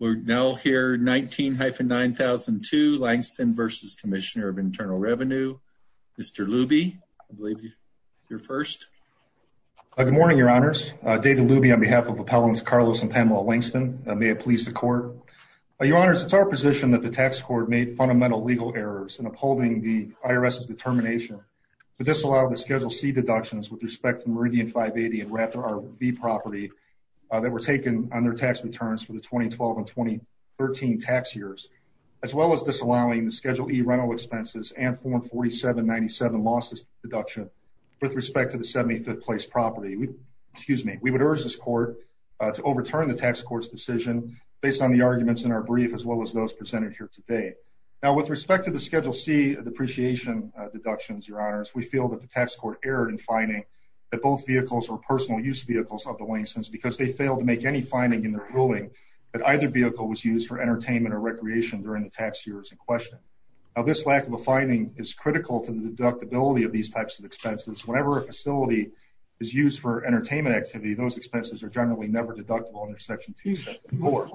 We're now here 19-9002 Langston v. Commissioner of Internal Revenue. Mr. Luby, I believe you're first. Good morning, your honors. David Luby on behalf of Appellants Carlos and Pamela Langston. May it please the court. Your honors, it's our position that the tax court made fundamental legal errors in upholding the IRS's determination to disallow the Schedule C deductions with respect to Meridian 580 and Raptor RV property that were taken on their tax returns for the 2012 and 2013 tax years, as well as disallowing the Schedule E rental expenses and Form 4797 losses deduction with respect to the 75th place property. We would urge this court to overturn the tax court's decision based on the arguments in our brief as well as those presented here today. Now with respect to the Schedule C depreciation deductions, your honors, we feel that the tax court erred in finding that both vehicles were personal use vehicles of the Langstons because they failed to make any finding in their ruling that either vehicle was used for entertainment or recreation during the tax years in question. Now this lack of a finding is critical to the deductibility of these types of expenses. Whenever a facility is used for entertainment activity, those expenses are generally never deductible under Section 274.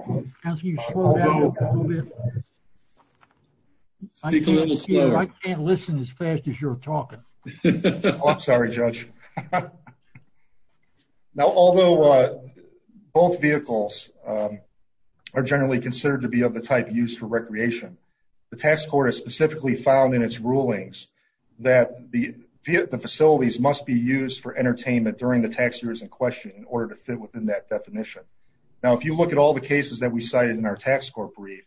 I can't listen as fast as you're talking. I'm sorry, Judge. Now although both vehicles are generally considered to be of the type used for recreation, the tax court has specifically found in its rulings that the facilities must be used for entertainment during the tax years in question in order to fit within that definition. Now if you look at all the cases that we cited in our tax court brief,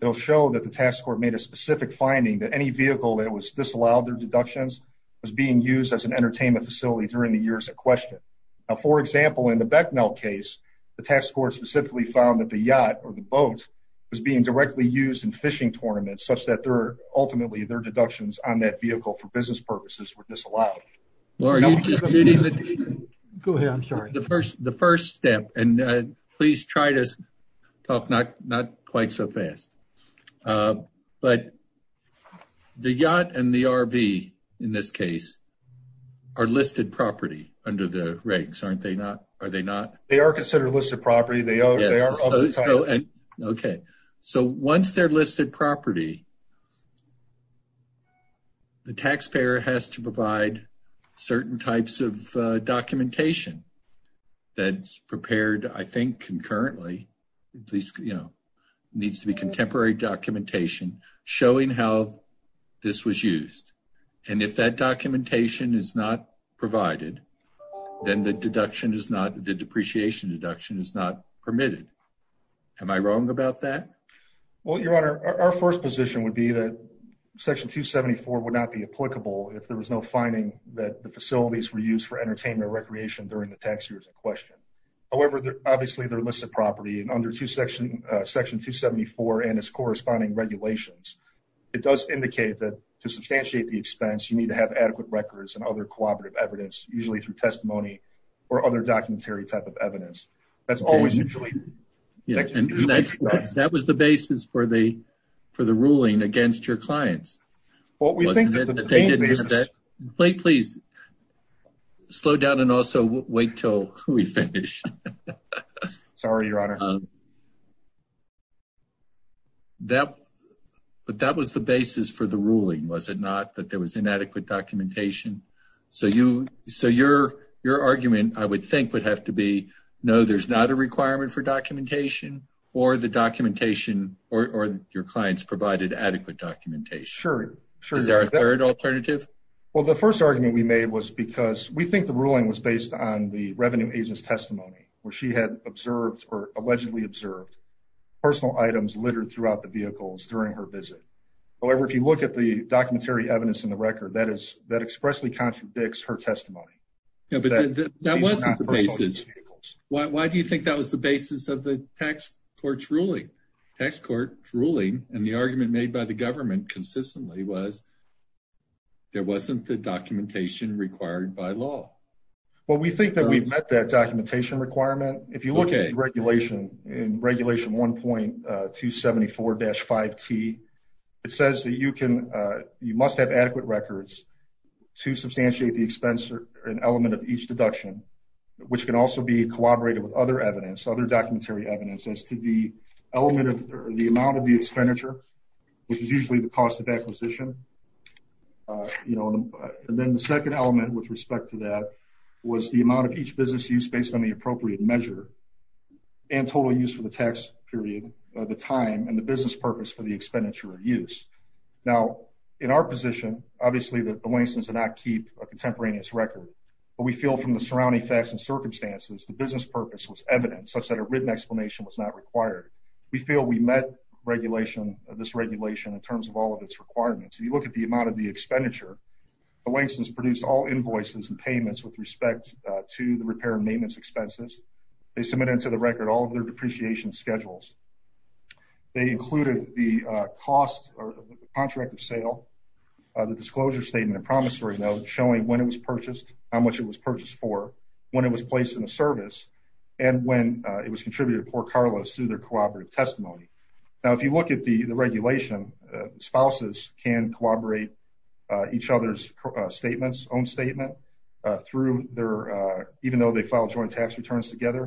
it'll show that the tax court made a specific finding that any vehicle that was disallowed their deductions was being used as an entertainment facility during the years in question. Now for example, in the Becknell case, the tax court specifically found that the yacht or the boat was being directly used in fishing tournaments such that they're ultimately their deductions on that vehicle for business purposes were disallowed. Well are you just meeting the... Go ahead, I'm sorry. The first step, and please try to talk not quite so fast, but the yacht and the RV in this case are listed property under the regs, aren't they not? Are they not? They are considered listed property. They are of the type... Certain types of documentation that's prepared I think concurrently, at least needs to be contemporary documentation showing how this was used. And if that documentation is not provided, then the deduction is not, the depreciation deduction is not permitted. Am I wrong about that? Well, your honor, our first position would be that section 274 would not be applicable if there was no finding that the facilities were used for entertainment or recreation during the tax years in question. However, obviously they're listed property and under section 274 and its corresponding regulations, it does indicate that to substantiate the expense, you need to have adequate records and other cooperative evidence, usually through testimony or other documentary type of evidence. That's always usually... And that was the basis for the ruling against your clients. Wait, please slow down and also wait till we finish. Sorry, your honor. But that was the basis for the ruling, was it not? That there was inadequate documentation. So your argument I would think would have to be, no, there's not a requirement for documentation or the documentation or your clients provided adequate documentation. Sure, sure. Is there a third alternative? Well, the first argument we made was because we think the ruling was based on the revenue agent's testimony where she had observed or allegedly observed personal items littered throughout the vehicles during her visit. However, if you look at the documentary evidence in the record, that expressly contradicts her testimony. But that wasn't the basis. Why do you think that was the basis of the tax court's ruling? Tax court's ruling and the argument made by the government consistently was there wasn't the documentation required by law. Well, we think that we've met that documentation requirement. If you look at the regulation in regulation 1.274-5T, it says that you must have adequate records to substantiate the expense element of each deduction, which can also be corroborated with other evidence, other documentary evidence as to the element of the amount of the expenditure, which is usually the cost of acquisition. And then the second element with respect to that was the amount of each business use based on the appropriate measure and total use for the tax period, the time and the business purpose for the expenditure or use. Now, in our position, obviously the O'Rangers did not keep a contemporaneous record, but we feel from the surrounding facts and circumstances, the business purpose was evident such that a written explanation was not required. We feel we met this regulation in terms of all of its requirements. If you look at the amount of the expenditure, the O'Rangers produced all invoices and payments with respect to the repair and maintenance expenses. They submitted to the contract of sale the disclosure statement and promissory note showing when it was purchased, how much it was purchased for, when it was placed in the service, and when it was contributed to poor Carlos through their cooperative testimony. Now, if you look at the regulation, spouses can corroborate each other's statements, own statement through their, even though they file joint tax returns together.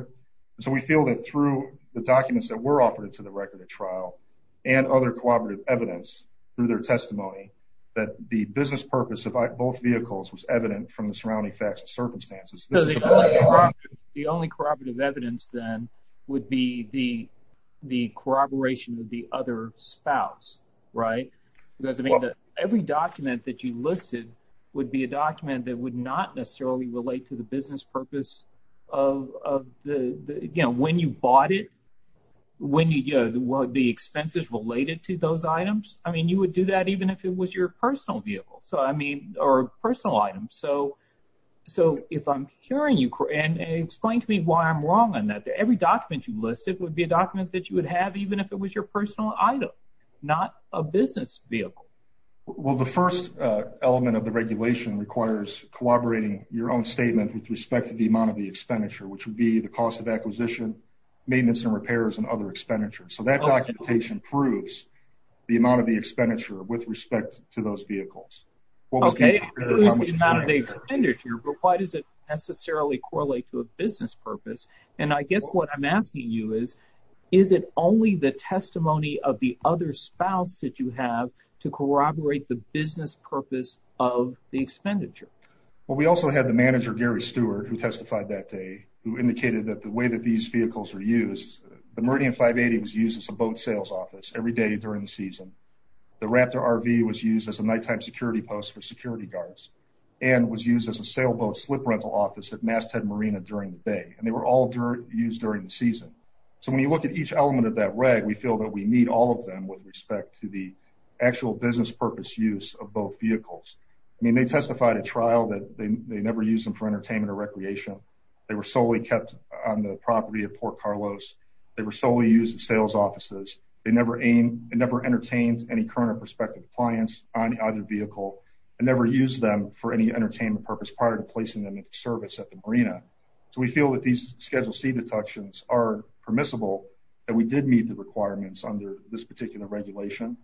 And so we feel that through the documents that were offered to the record of trial and other cooperative evidence through their testimony, that the business purpose of both vehicles was evident from the surrounding facts and circumstances. The only corroborative evidence then would be the corroboration of the other spouse, right? Because I mean, every document that you listed would be a document that would not necessarily relate to the business purpose of the, you know, when you bought it, when you, you know, the expenses related to those items. I mean, you would do that even if it was your personal vehicle. So, I mean, or personal items. So, if I'm hearing you, and explain to me why I'm wrong on that. Every document you listed would be a document that you would have even if it was your personal item, not a business vehicle. Well, the first element of the regulation requires corroborating your own statement with respect to amount of the expenditure, which would be the cost of acquisition, maintenance, and repairs, and other expenditures. So, that documentation proves the amount of the expenditure with respect to those vehicles. Okay, but why does it necessarily correlate to a business purpose? And I guess what I'm asking you is, is it only the testimony of the other spouse that you have to corroborate the business purpose of the expenditure? Well, we also had the manager, Gary Stewart, who testified that day, who indicated that the way that these vehicles were used, the Meridian 580 was used as a boat sales office every day during the season. The Raptor RV was used as a nighttime security post for security guards, and was used as a sailboat slip rental office at MassTed Marina during the day. And they were all used during the season. So, when you look at each element of that reg, we feel that we need all of them with respect to the actual business purpose use of both vehicles. I mean, they testified at trial that they never used them for entertainment or recreation. They were solely kept on the property of Port Carlos. They were solely used in sales offices. They never entertained any current or prospective clients on either vehicle, and never used them for any entertainment purpose prior to placing them into service at the marina. So, we feel that these Schedule C deductions are permissible, that we did meet the requirements under this particular regulation,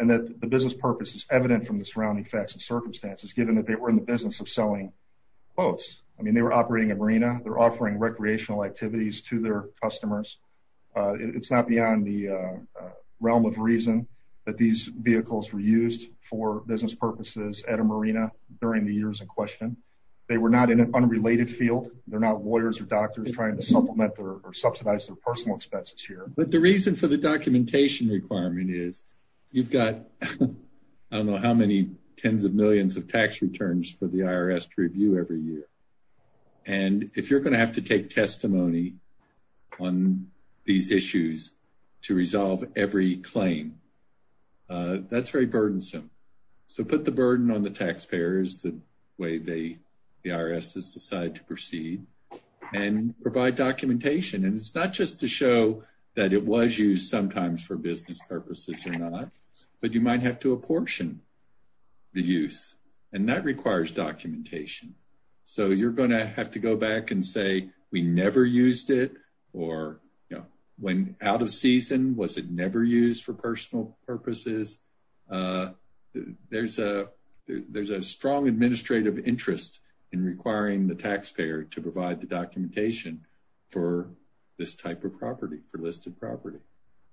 and that the business purpose is evident from the surrounding facts and circumstances, given that they were in the boats. I mean, they were operating a marina. They're offering recreational activities to their customers. It's not beyond the realm of reason that these vehicles were used for business purposes at a marina during the years in question. They were not in an unrelated field. They're not lawyers or doctors trying to supplement or subsidize their personal expenses here. But the reason for the documentation requirement is, you've got, I don't know how many tens of And if you're going to have to take testimony on these issues to resolve every claim, that's very burdensome. So, put the burden on the taxpayers, the way the IRS has decided to proceed, and provide documentation. And it's not just to show that it was used sometimes for business purposes or not, but you might have to apportion the use, and that requires documentation. So, you're going to have to go back and say, we never used it, or, you know, when out of season, was it never used for personal purposes? There's a strong administrative interest in requiring the taxpayer to provide the documentation for this type of property, for listed property.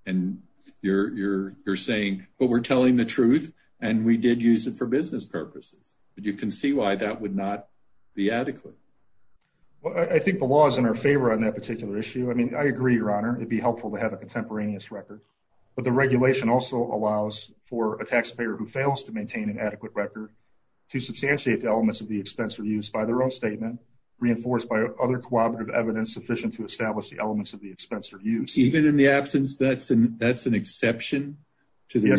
And you're saying, but we're telling the truth, and we did use it business purposes. But you can see why that would not be adequate. I think the law is in our favor on that particular issue. I mean, I agree, Your Honor. It'd be helpful to have a contemporaneous record. But the regulation also allows for a taxpayer who fails to maintain an adequate record to substantiate the elements of the expense or use by their own statement, reinforced by other cooperative evidence sufficient to establish the elements of the expense or use. Even in the absence, that's an exception to the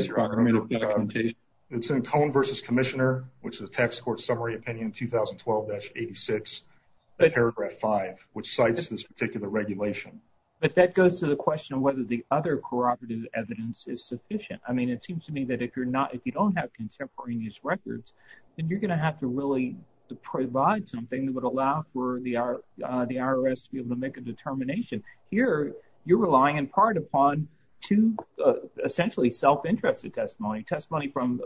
documentation? It's in Cone v. Commissioner, which is a Tax Court Summary Opinion 2012-86, paragraph 5, which cites this particular regulation. But that goes to the question of whether the other cooperative evidence is sufficient. I mean, it seems to me that if you're not, if you don't have contemporaneous records, then you're going to have to really provide something that would allow for the IRS to be able to make a determination. Here, you're relying in part upon two, essentially, self-interested testimony. Testimony from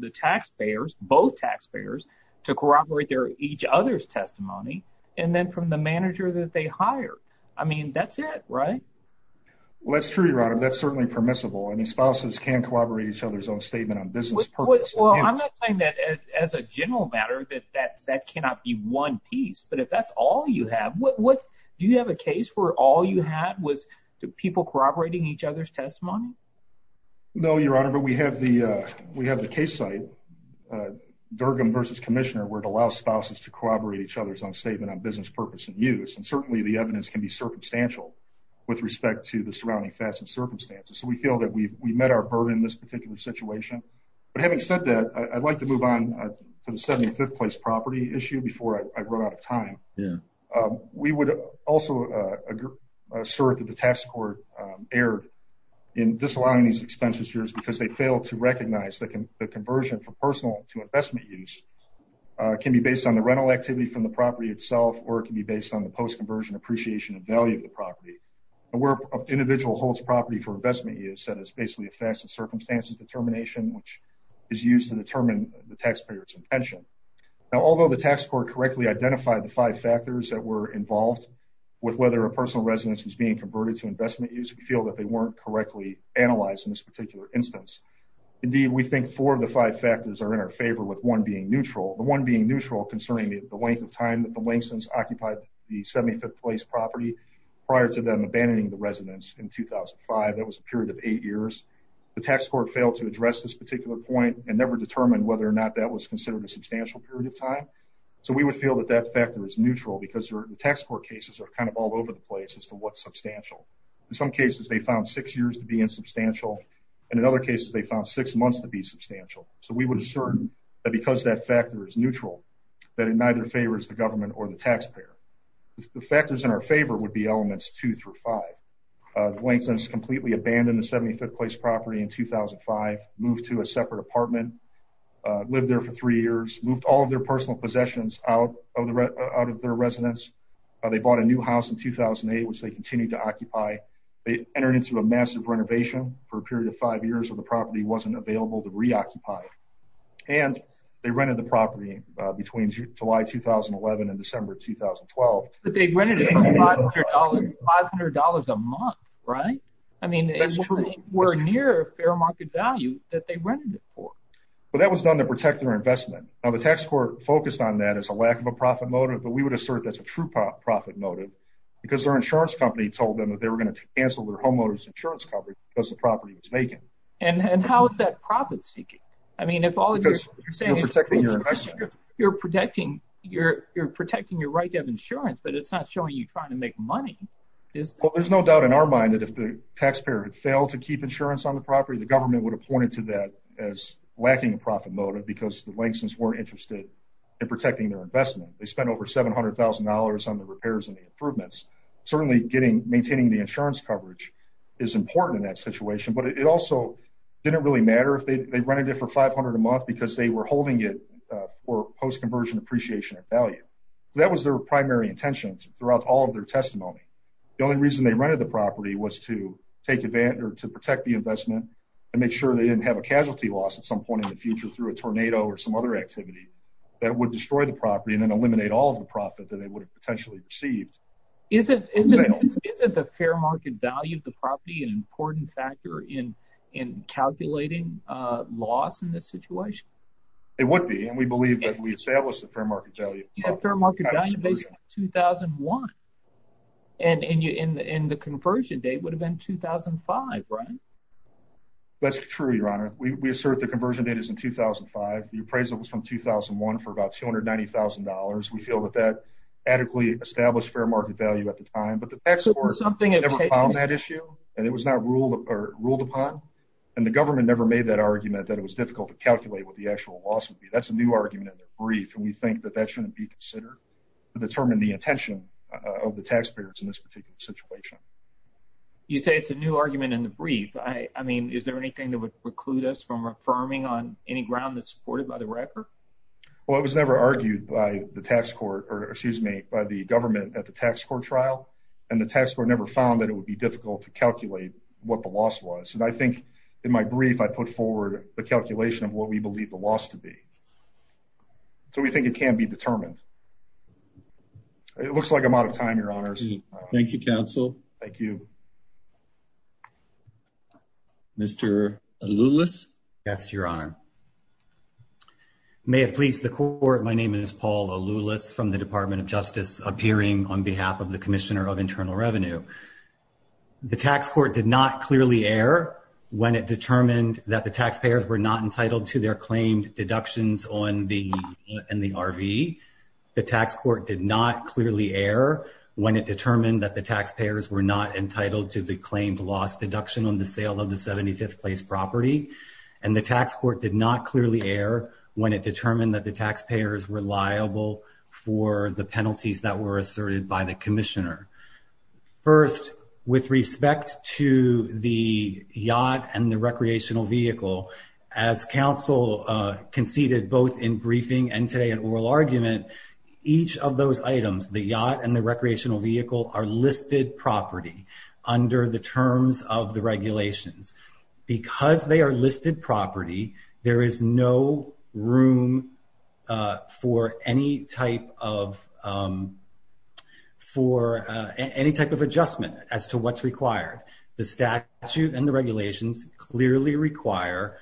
the taxpayers, both taxpayers, to corroborate each other's testimony, and then from the manager that they hired. I mean, that's it, right? Well, that's true, Your Honor. That's certainly permissible. I mean, spouses can corroborate each other's own statement on business purpose. Well, I'm not saying that as a general matter that that cannot be one piece. But if that's all you have, do you have a case where all you had was people corroborating each other's testimony? No, Your Honor. But we have the case site, Durgan v. Commissioner, where it allows spouses to corroborate each other's own statement on business purpose and use. And certainly the evidence can be circumstantial with respect to the surrounding facts and circumstances. So we feel that we've met our burden in this particular situation. But having said that, I'd like to move on to the 75th place property issue before I run out of time. We would also assert that the tax court erred in disallowing these expenditures because they fail to recognize that the conversion from personal to investment use can be based on the rental activity from the property itself, or it can be based on the post-conversion appreciation of value of the property. And where an individual holds property for investment use, that is basically a determination which is used to determine the taxpayer's intention. Now, although the tax court correctly identified the five factors that were involved with whether a personal residence was being converted to investment use, we feel that they weren't correctly analyzed in this particular instance. Indeed, we think four of the five factors are in our favor, with one being neutral. The one being neutral concerning the length of time that the Langston's occupied the 75th place property prior to them abandoning the residence in 2005. That was a tax court failed to address this particular point and never determined whether or not that was considered a substantial period of time. So we would feel that that factor is neutral because the tax court cases are kind of all over the place as to what's substantial. In some cases, they found six years to be insubstantial. And in other cases, they found six months to be substantial. So we would assert that because that factor is neutral, that it neither favors the government or the taxpayer. The factors in our favor would be elements two through five. Langston's completely abandoned the 75th place property in 2005, moved to a separate apartment, lived there for three years, moved all of their personal possessions out of their residence. They bought a new house in 2008, which they continued to occupy. They entered into a massive renovation for a period of five years of the property wasn't available to reoccupy. And they rented the property between July 2011 and December 2012. But they rented it for $500 a month, right? I mean, that's true. We're near fair market value that they rented it for. But that was done to protect their investment. Now, the tax court focused on that as a lack of a profit motive. But we would assert that's a true profit motive because their insurance company told them that they were going to cancel their homeowners insurance coverage because the property was vacant. And how is that profit seeking? I mean, if all of this is protecting your investment, you're protecting your you're protecting your insurance, but it's not showing you trying to make money. There's no doubt in our mind that if the taxpayer had failed to keep insurance on the property, the government would have pointed to that as lacking a profit motive because the Langston's weren't interested in protecting their investment. They spent over $700,000 on the repairs and the improvements. Certainly getting maintaining the insurance coverage is important in that situation. But it also didn't really matter if they rented it for 500 a month because they were primary intentions throughout all of their testimony. The only reason they rented the property was to take advantage or to protect the investment and make sure they didn't have a casualty loss at some point in the future through a tornado or some other activity that would destroy the property and then eliminate all of the profit that they would have potentially received. Isn't the fair market value of the property an important factor in calculating loss in this situation? It would be. And we believe that we 2001 and in the in the conversion date would have been 2005, right? That's true, your honor. We assert the conversion date is in 2005. The appraisal was from 2001 for about $290,000. We feel that that adequately established fair market value at the time, but that's something that issue and it was not ruled or ruled upon. And the government never made that argument that it was difficult to calculate what the actual loss would be. That's argument in the brief and we think that that shouldn't be considered to determine the attention of the taxpayers in this particular situation. You say it's a new argument in the brief. I mean, is there anything that would preclude us from affirming on any ground that's supported by the record? Well, it was never argued by the tax court or excuse me, by the government at the tax court trial. And the tax court never found that it would be difficult to calculate what the loss was. And I think in my brief, I put forward the calculation of what we believe the loss to be. So we think it can be determined. It looks like I'm out of time, your honors. Thank you, counsel. Mr. Aloulis. Yes, your honor. May it please the court. My name is Paul Aloulis from the Department of Justice appearing on behalf of the commissioner of internal revenue. The tax court did not clearly air when it determined that the taxpayers were not entitled to their claimed deductions on the and the RV. The tax court did not clearly air when it determined that the taxpayers were not entitled to the claimed loss deduction on the sale of the 75th place property. And the tax court did not clearly air when it determined that the taxpayers were liable for the penalties that were asserted by the commissioner. First, with respect to the yacht and the recreational vehicle, as counsel conceded, both in briefing and today at oral argument, each of those items, the yacht and the recreational vehicle are listed property under the terms of the regulations. Because they are listed property, there is no room for any type of adjustment as to what's required. The statute and the regulations clearly require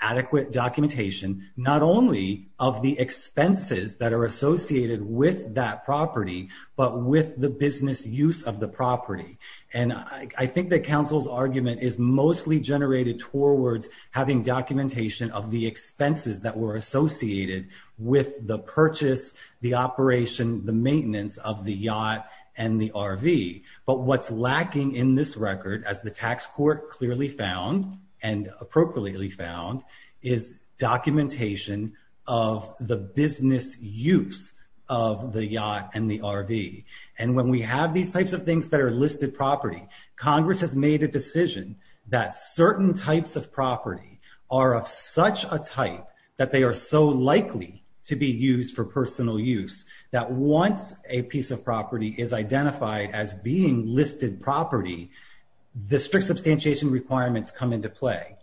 adequate documentation, not only of the expenses that are associated with that property, but with the business use of the property. And I think counsel's argument is mostly generated towards having documentation of the expenses that were associated with the purchase, the operation, the maintenance of the yacht and the RV. But what's lacking in this record, as the tax court clearly found and appropriately found, is documentation of the business use of the yacht and the RV. And when we have these types of things that are listed property, Congress has made a decision that certain types of property are of such a type that they are so likely to be used for personal use that once a piece of property is identified as being listed property, the strict substantiation requirements come into play,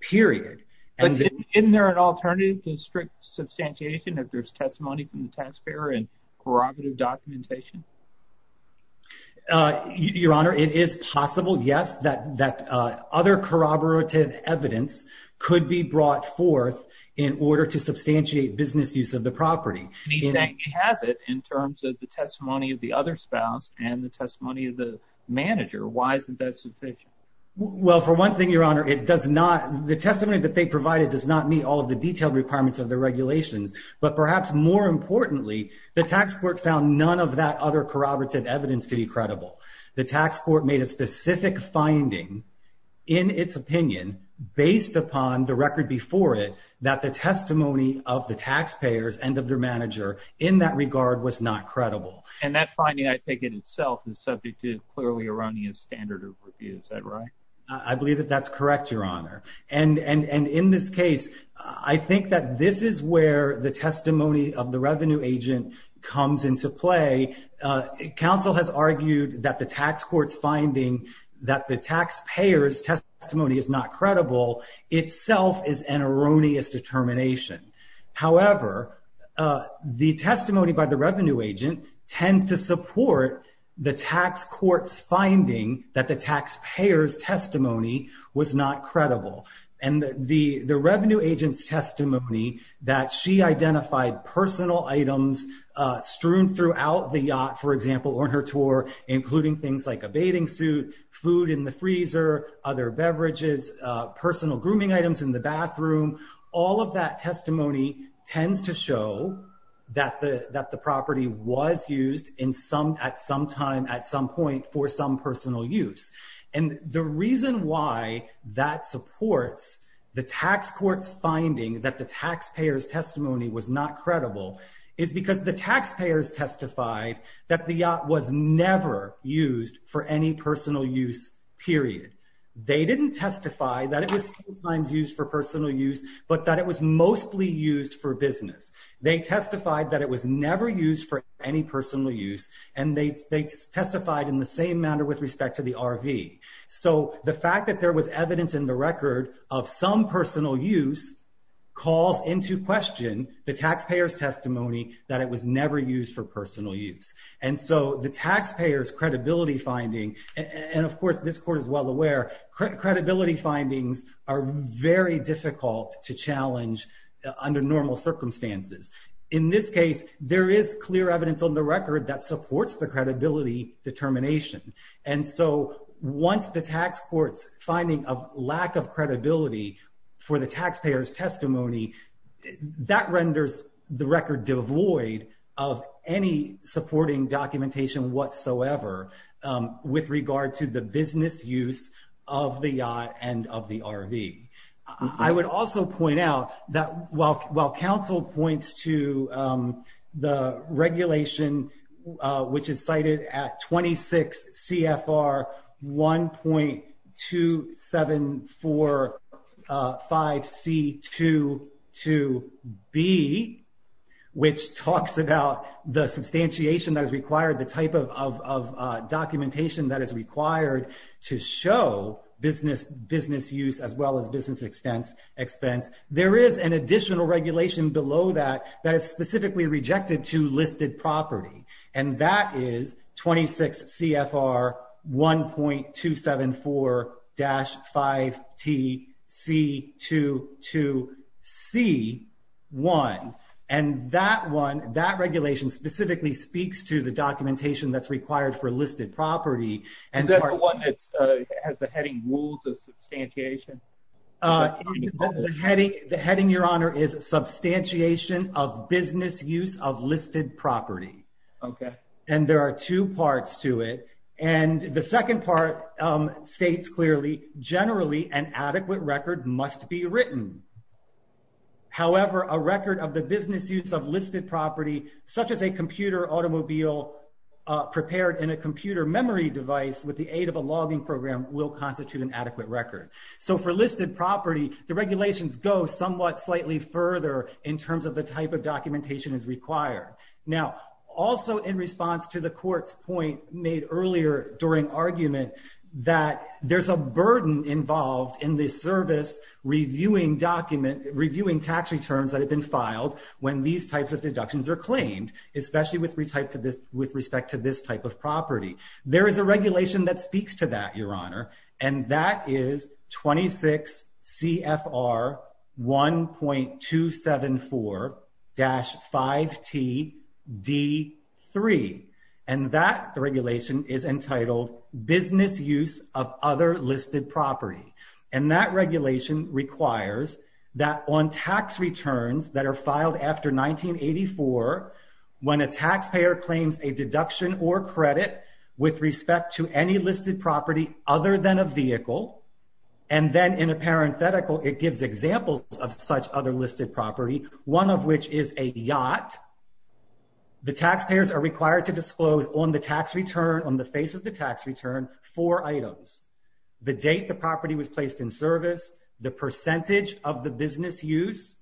period. But isn't there an alternative to strict substantiation if there's testimony from the taxpayer and corroborative documentation? Your Honor, it is possible, yes, that other corroborative evidence could be brought forth in order to substantiate business use of the property. And he's saying he has it in terms of the testimony of the other spouse and the testimony of the manager. Why isn't that sufficient? Well, for one thing, Your Honor, the testimony that they provided does not meet all of the The tax court found none of that other corroborative evidence to be credible. The tax court made a specific finding in its opinion, based upon the record before it, that the testimony of the taxpayers and of their manager in that regard was not credible. And that finding, I take it itself, is subject to clearly erroneous standard of review. Is that right? I believe that that's correct, Your Honor. And in this case, I think that this is where the testimony of the revenue agent comes into play. Counsel has argued that the tax court's finding that the taxpayer's testimony is not credible itself is an erroneous determination. However, the testimony by the revenue agent tends to support the tax court's finding that the taxpayer's testimony was not credible. And the revenue agent's testimony that she identified personal items strewn throughout the yacht, for example, on her tour, including things like a bathing suit, food in the freezer, other beverages, personal grooming items in the bathroom, all of that testimony tends to show that the property was used at some time at some point for some personal use. And the reason why that supports the tax court's finding that the taxpayer's testimony was not credible is because the taxpayers testified that the yacht was never used for any personal use, period. They didn't testify that it was sometimes used for personal use, but that it was mostly used for business. They testified that it was never used for any personal use. And they testified in the same manner with respect to the RV. So the fact that there was evidence in the record of some personal use calls into question the taxpayer's testimony that it was never used for personal use. And so the taxpayer's credibility finding, and of course, this court is well aware, credibility findings are very difficult to challenge under normal circumstances. In this case, there is clear evidence on the record that supports the credibility determination. And so once the tax court's finding of lack of credibility for the taxpayer's testimony, that renders the record devoid of any supporting documentation whatsoever with regard to the business use of the yacht and of the RV. I would also point out that while counsel points to the regulation, which is cited at 26 CFR 1.2745C22B, which talks about the substantiation that is required, the type of documentation that is required to show business use as well as business expense, there is an additional regulation below that that is specifically rejected to listed property. And that is 26 CFR 1.274-5TC22C1. And that one, that regulation specifically speaks to the documentation that's required for listed property. Is that the one that has the heading rules of substantiation? The heading, Your Honor, is substantiation of business use of listed property. Okay. And there are two parts to it. And the second part states clearly, generally an adequate record must be written. However, a record of the business use of listed property, such as a computer automobile prepared in a computer memory device with the aid of a logging program will constitute an adequate record. So for listed property, the regulations go somewhat slightly further in terms of the type of documentation is required. Now, also in response to the court's point made earlier during argument that there's a burden involved in the service reviewing tax returns that have been filed when these types of deductions are claimed, especially with respect to this type of property. There is a regulation that speaks to that, Your Honor. And that is 26 CFR 1.274-5TD3. And that regulation is entitled business use of other listed property. And that regulation requires that on tax returns that are filed after 1984, when a taxpayer claims a deduction or credit with respect to any listed property other than a vehicle. And then in a parenthetical, it gives examples of such other listed property, one of which is a yacht. The taxpayers are required to disclose on the tax return, on the face of the tax return, four items, the date the property was placed in service, the percentage of the business use,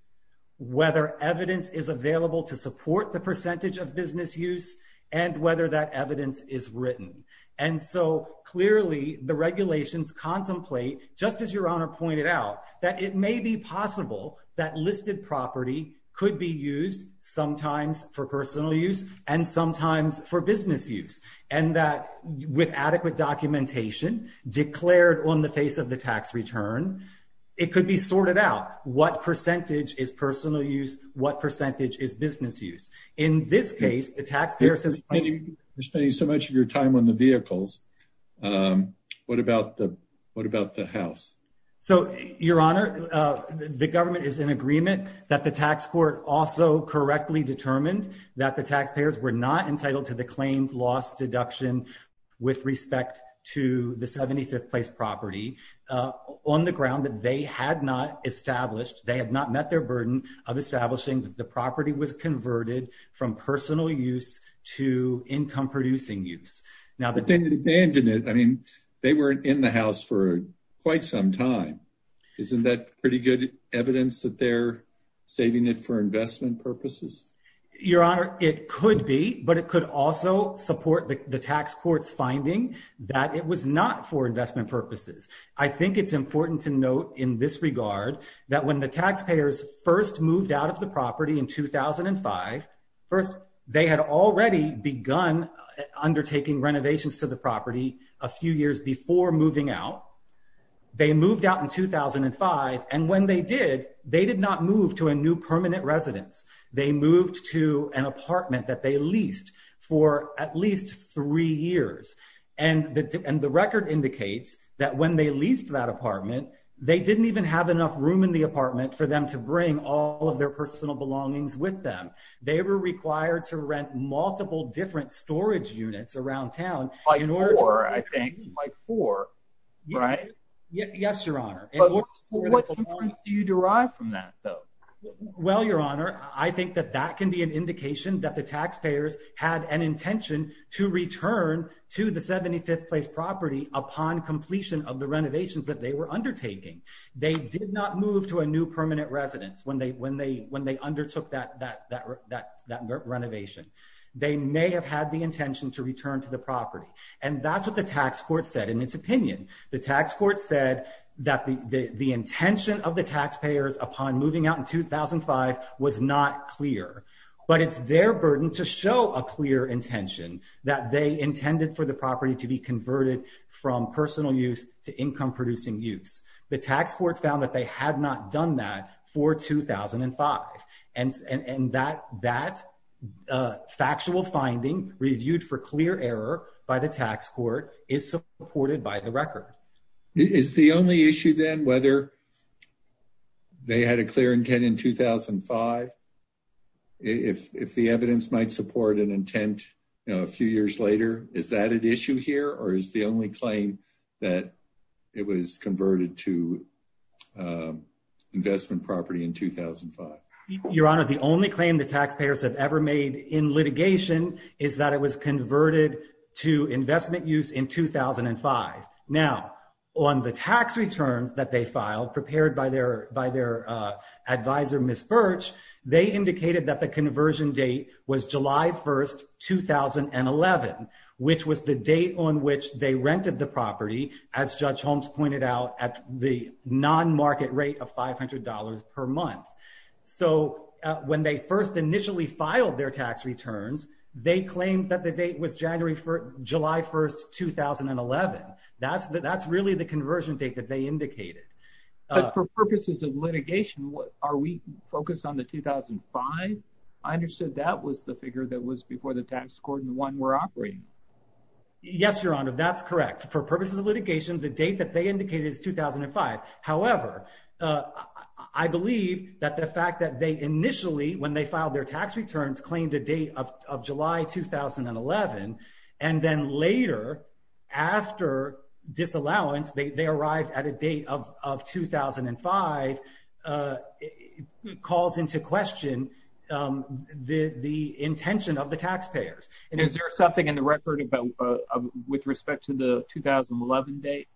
whether evidence is available to support the percentage of business use, and whether that evidence is written. And so clearly the regulations contemplate, just as Your Honor pointed out, that it may be possible that listed property could be used sometimes for personal use and sometimes for business use. And that with adequate documentation declared on the face of the tax return, it could be sorted out. What percentage is personal use? What percentage is business use? In this case, the taxpayer says- You're spending so much of your time on the vehicles. What about the house? So Your Honor, the government is in agreement that the tax court also correctly determined that the taxpayers were not entitled to the claimed loss deduction with respect to the 75th place property on the ground that they had not established, they had not met their burden of establishing that the property was converted from personal use to income producing use. But they didn't abandon it. I mean, they weren't in the house for quite some time. Isn't that pretty good evidence that they're saving it for investment purposes? Your Honor, it could be, but it could also support the tax court's finding that it was not for investment purposes. I think it's important to note in this regard that when the taxpayers first moved out of the property in 2005, first, they had already begun undertaking renovations to the property a few years before moving out. They moved out in 2005. And when they did, they did not move to a new permanent residence. They moved to an apartment that they leased for at least three years. And the record indicates that when they leased that apartment, they didn't even have enough room in the apartment for them to bring all of their personal belongings with them. They were required to rent multiple different storage units around town. Like four, I think. Like four, right? Yes, Your Honor. What inference do you derive from that, though? Well, Your Honor, I think that that can be an indication that the taxpayers had an intention to return to the 75th Place property upon completion of the renovations that they were undertaking. They did not move to a new permanent residence when they undertook that renovation. They may have had the intention to return to the property. And that's what the tax court said in its opinion. The tax court said that the intention of the taxpayers upon moving out in 2005 was not clear. But it's their burden to show a clear intention that they intended for the property to be converted from personal use to income-producing use. The tax court found that they had not done that for 2005. And that factual finding, reviewed for clear error by the tax court, is supported by the record. Is the only issue then whether they had a clear intent in 2005? If the evidence might support an intent a few years later, is that an issue here? Or is the only claim that it was converted to investment property in 2005? Your Honor, the only claim the taxpayers have ever made in litigation is that it was converted to investment use in 2005. Now, on the tax returns that they filed, prepared by their advisor, Ms. Birch, they indicated that the conversion date was July 1st, 2011, which was the date on which they rented the property, as Judge Holmes pointed out, at the non-market rate of $500 per month. So when they first initially filed their tax returns, they claimed that the date was July 1st, 2011. That's really the conversion date that they indicated. But for purposes of litigation, are we focused on the 2005? I understood that was the figure that was before the tax court when we're operating. Yes, Your Honor, that's correct. For purposes of litigation, the date that they indicated is 2005. However, I believe that the fact that they initially, when they filed their tax returns, claimed a date of July 2011, and then later, after disallowance, they arrived at a date of 2005, calls into question the intention of the taxpayers. Is there something in the record with respect to the 2011 date?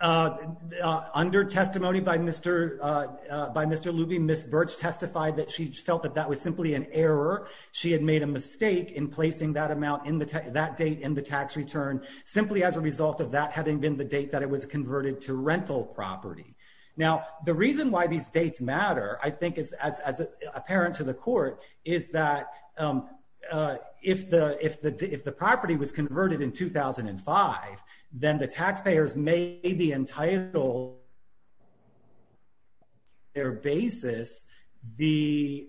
Under testimony by Mr. Luby, Ms. Birch testified that she felt that that was simply an error. She had made a mistake in placing that date in the tax return simply as a result of that having been the date that it was converted to rental property. Now, the reason why these dates matter, I think as apparent to the court, is that if the property was converted in 2005, then the taxpayers may be entitled to their basis the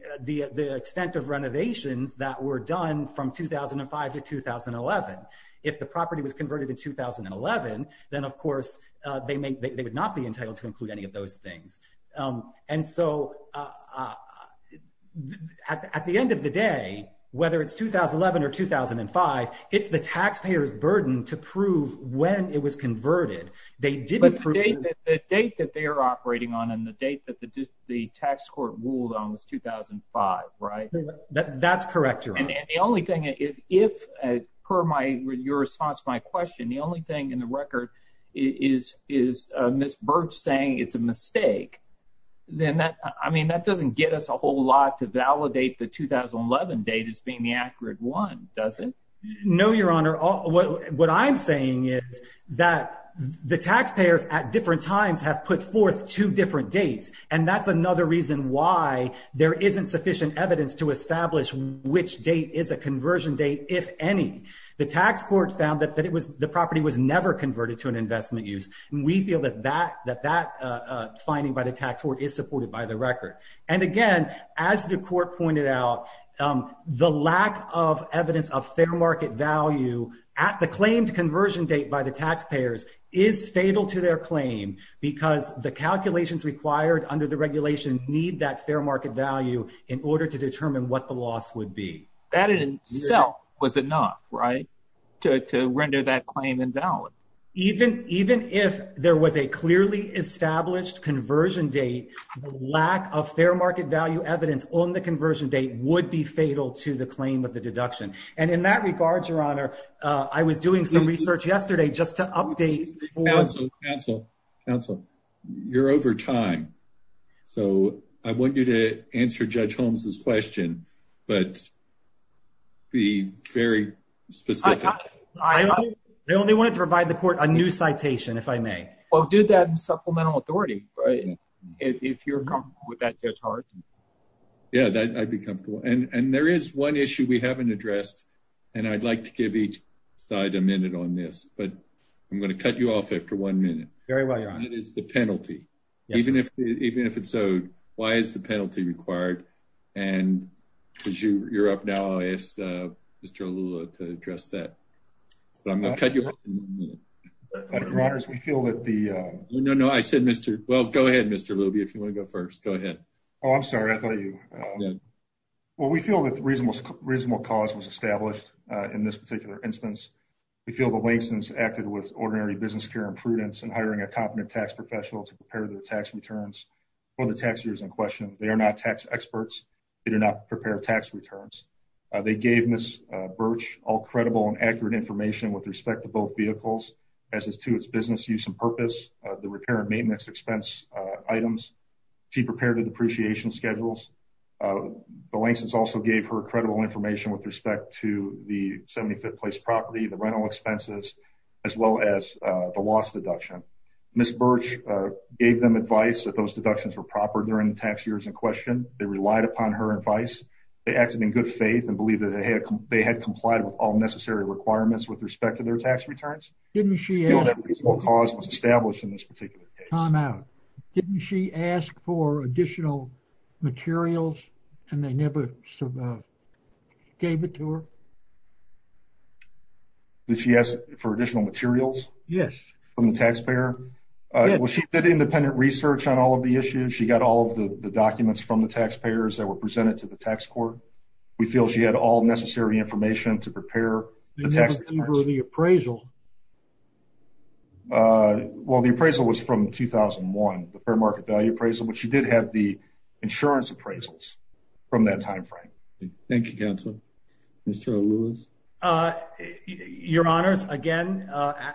extent of renovations that were done from 2005 to 2011. If the property was converted in 2011, then of course, they would not be entitled to include any of those things. And so, at the end of the day, whether it's 2011 or 2005, it's the taxpayer's burden to prove when it was converted. They didn't prove- But the date that they are operating on and the date that the tax court ruled on was 2005, right? That's correct, Your Honor. The only thing, if, per your response to my question, the only thing in the record is Ms. Birch saying it's a mistake. Then that, I mean, that doesn't get us a whole lot to validate the 2011 date as being the accurate one, does it? No, Your Honor. What I'm saying is that the taxpayers at different times have put forth two different dates, and that's another reason why there isn't sufficient evidence to establish which date is a conversion date, if any. The tax court found that the property was never converted to an investment use. We feel that that finding by the tax court is supported by the record. And again, as the court pointed out, the lack of evidence of fair market value at the claimed conversion date by the taxpayers is fatal to their claim because the calculations required under the regulation need that fair market value in order to determine what the loss would be. That in itself was enough, right, to render that claim invalid. Even if there was a clearly established conversion date, lack of fair market value evidence on the conversion date would be fatal to the claim of the deduction. And in that regard, Your Honor, I was doing some research yesterday just to update for- Counsel, counsel, counsel, you're over time. So I want you to answer Judge Holmes's question, but be very specific. I only wanted to provide the court a new citation, if I may. Well, do that in supplemental authority, right? If you're comfortable with that, Judge Hart. Yeah, I'd be comfortable. And there is one issue we haven't addressed. And I'd like to give each side a minute on this, but I'm going to cut you off after one minute. Very well, Your Honor. And that is the penalty. Even if it's owed, why is the penalty required? And because you're up now, I asked Mr. Lula to address that. But I'm going to cut you off in one minute. Your Honor, we feel that the- No, no, I said Mr. Well, go ahead, Mr. Lube, if you want to go first. Go ahead. Oh, I'm sorry. I thought you- Well, we feel that the reasonable cause was established in this particular instance. We feel the license acted with ordinary business care imprudence and hiring a competent tax professional to prepare their tax returns for the tax years in question. They are not tax experts. They do not prepare tax returns. They gave Ms. Birch all credible and accurate information with respect to both vehicles, as is to its business use and purpose, the repair and maintenance expense items, cheap repair to depreciation schedules. The license also gave her credible information with respect to the 75th place property, the rental expenses, as well as the loss deduction. Ms. Birch gave them advice that those deductions were proper during the tax years in question. They relied upon her advice. They acted in good faith and believed that they had complied with all necessary requirements with respect to their tax returns. Didn't she ask- The reasonable cause was established in this particular case. Time out. Didn't she ask for additional materials, and they never gave it to her? Did she ask for additional materials? Yes. From the taxpayer? Well, she did independent research on all of the issues. She got all of the documents from the taxpayers that were presented to the tax court. We feel she had all necessary information to prepare the tax returns. They never gave her the appraisal. Well, the appraisal was from 2001, the fair market value appraisal, but she did have the insurance appraisals from that timeframe. Thank you, counsel. Mr. Lewis. Your honors, again,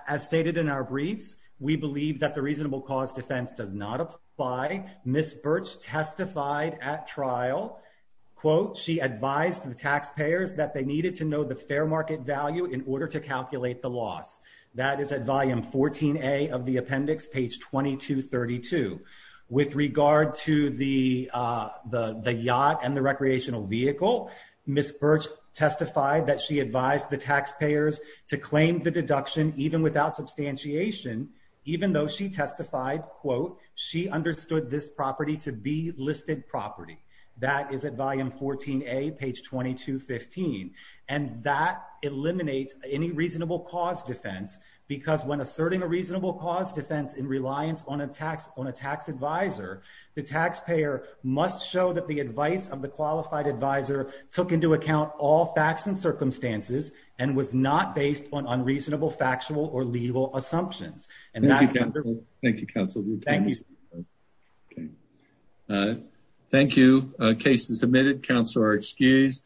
as stated in our briefs, we believe that the reasonable cause defense does not apply. Ms. Birch testified at trial, she advised the taxpayers that they needed to know the fair market value in order to calculate the loss. That is at volume 14A of the appendix, page 2232. With regard to the yacht and the recreational vehicle, Ms. Birch testified that she advised the taxpayers to claim the deduction even without substantiation, even though she testified, she understood this property to be listed property. That is at volume 14A, page 2215. And that eliminates any reasonable cause defense because when asserting a reasonable cause defense in reliance on a tax advisor, the taxpayer must show that the advice of the qualified advisor took into account all facts and circumstances and was not based on unreasonable factual or legal assumptions. Thank you, counsel. Thank you. A case is submitted. Counsel are excused.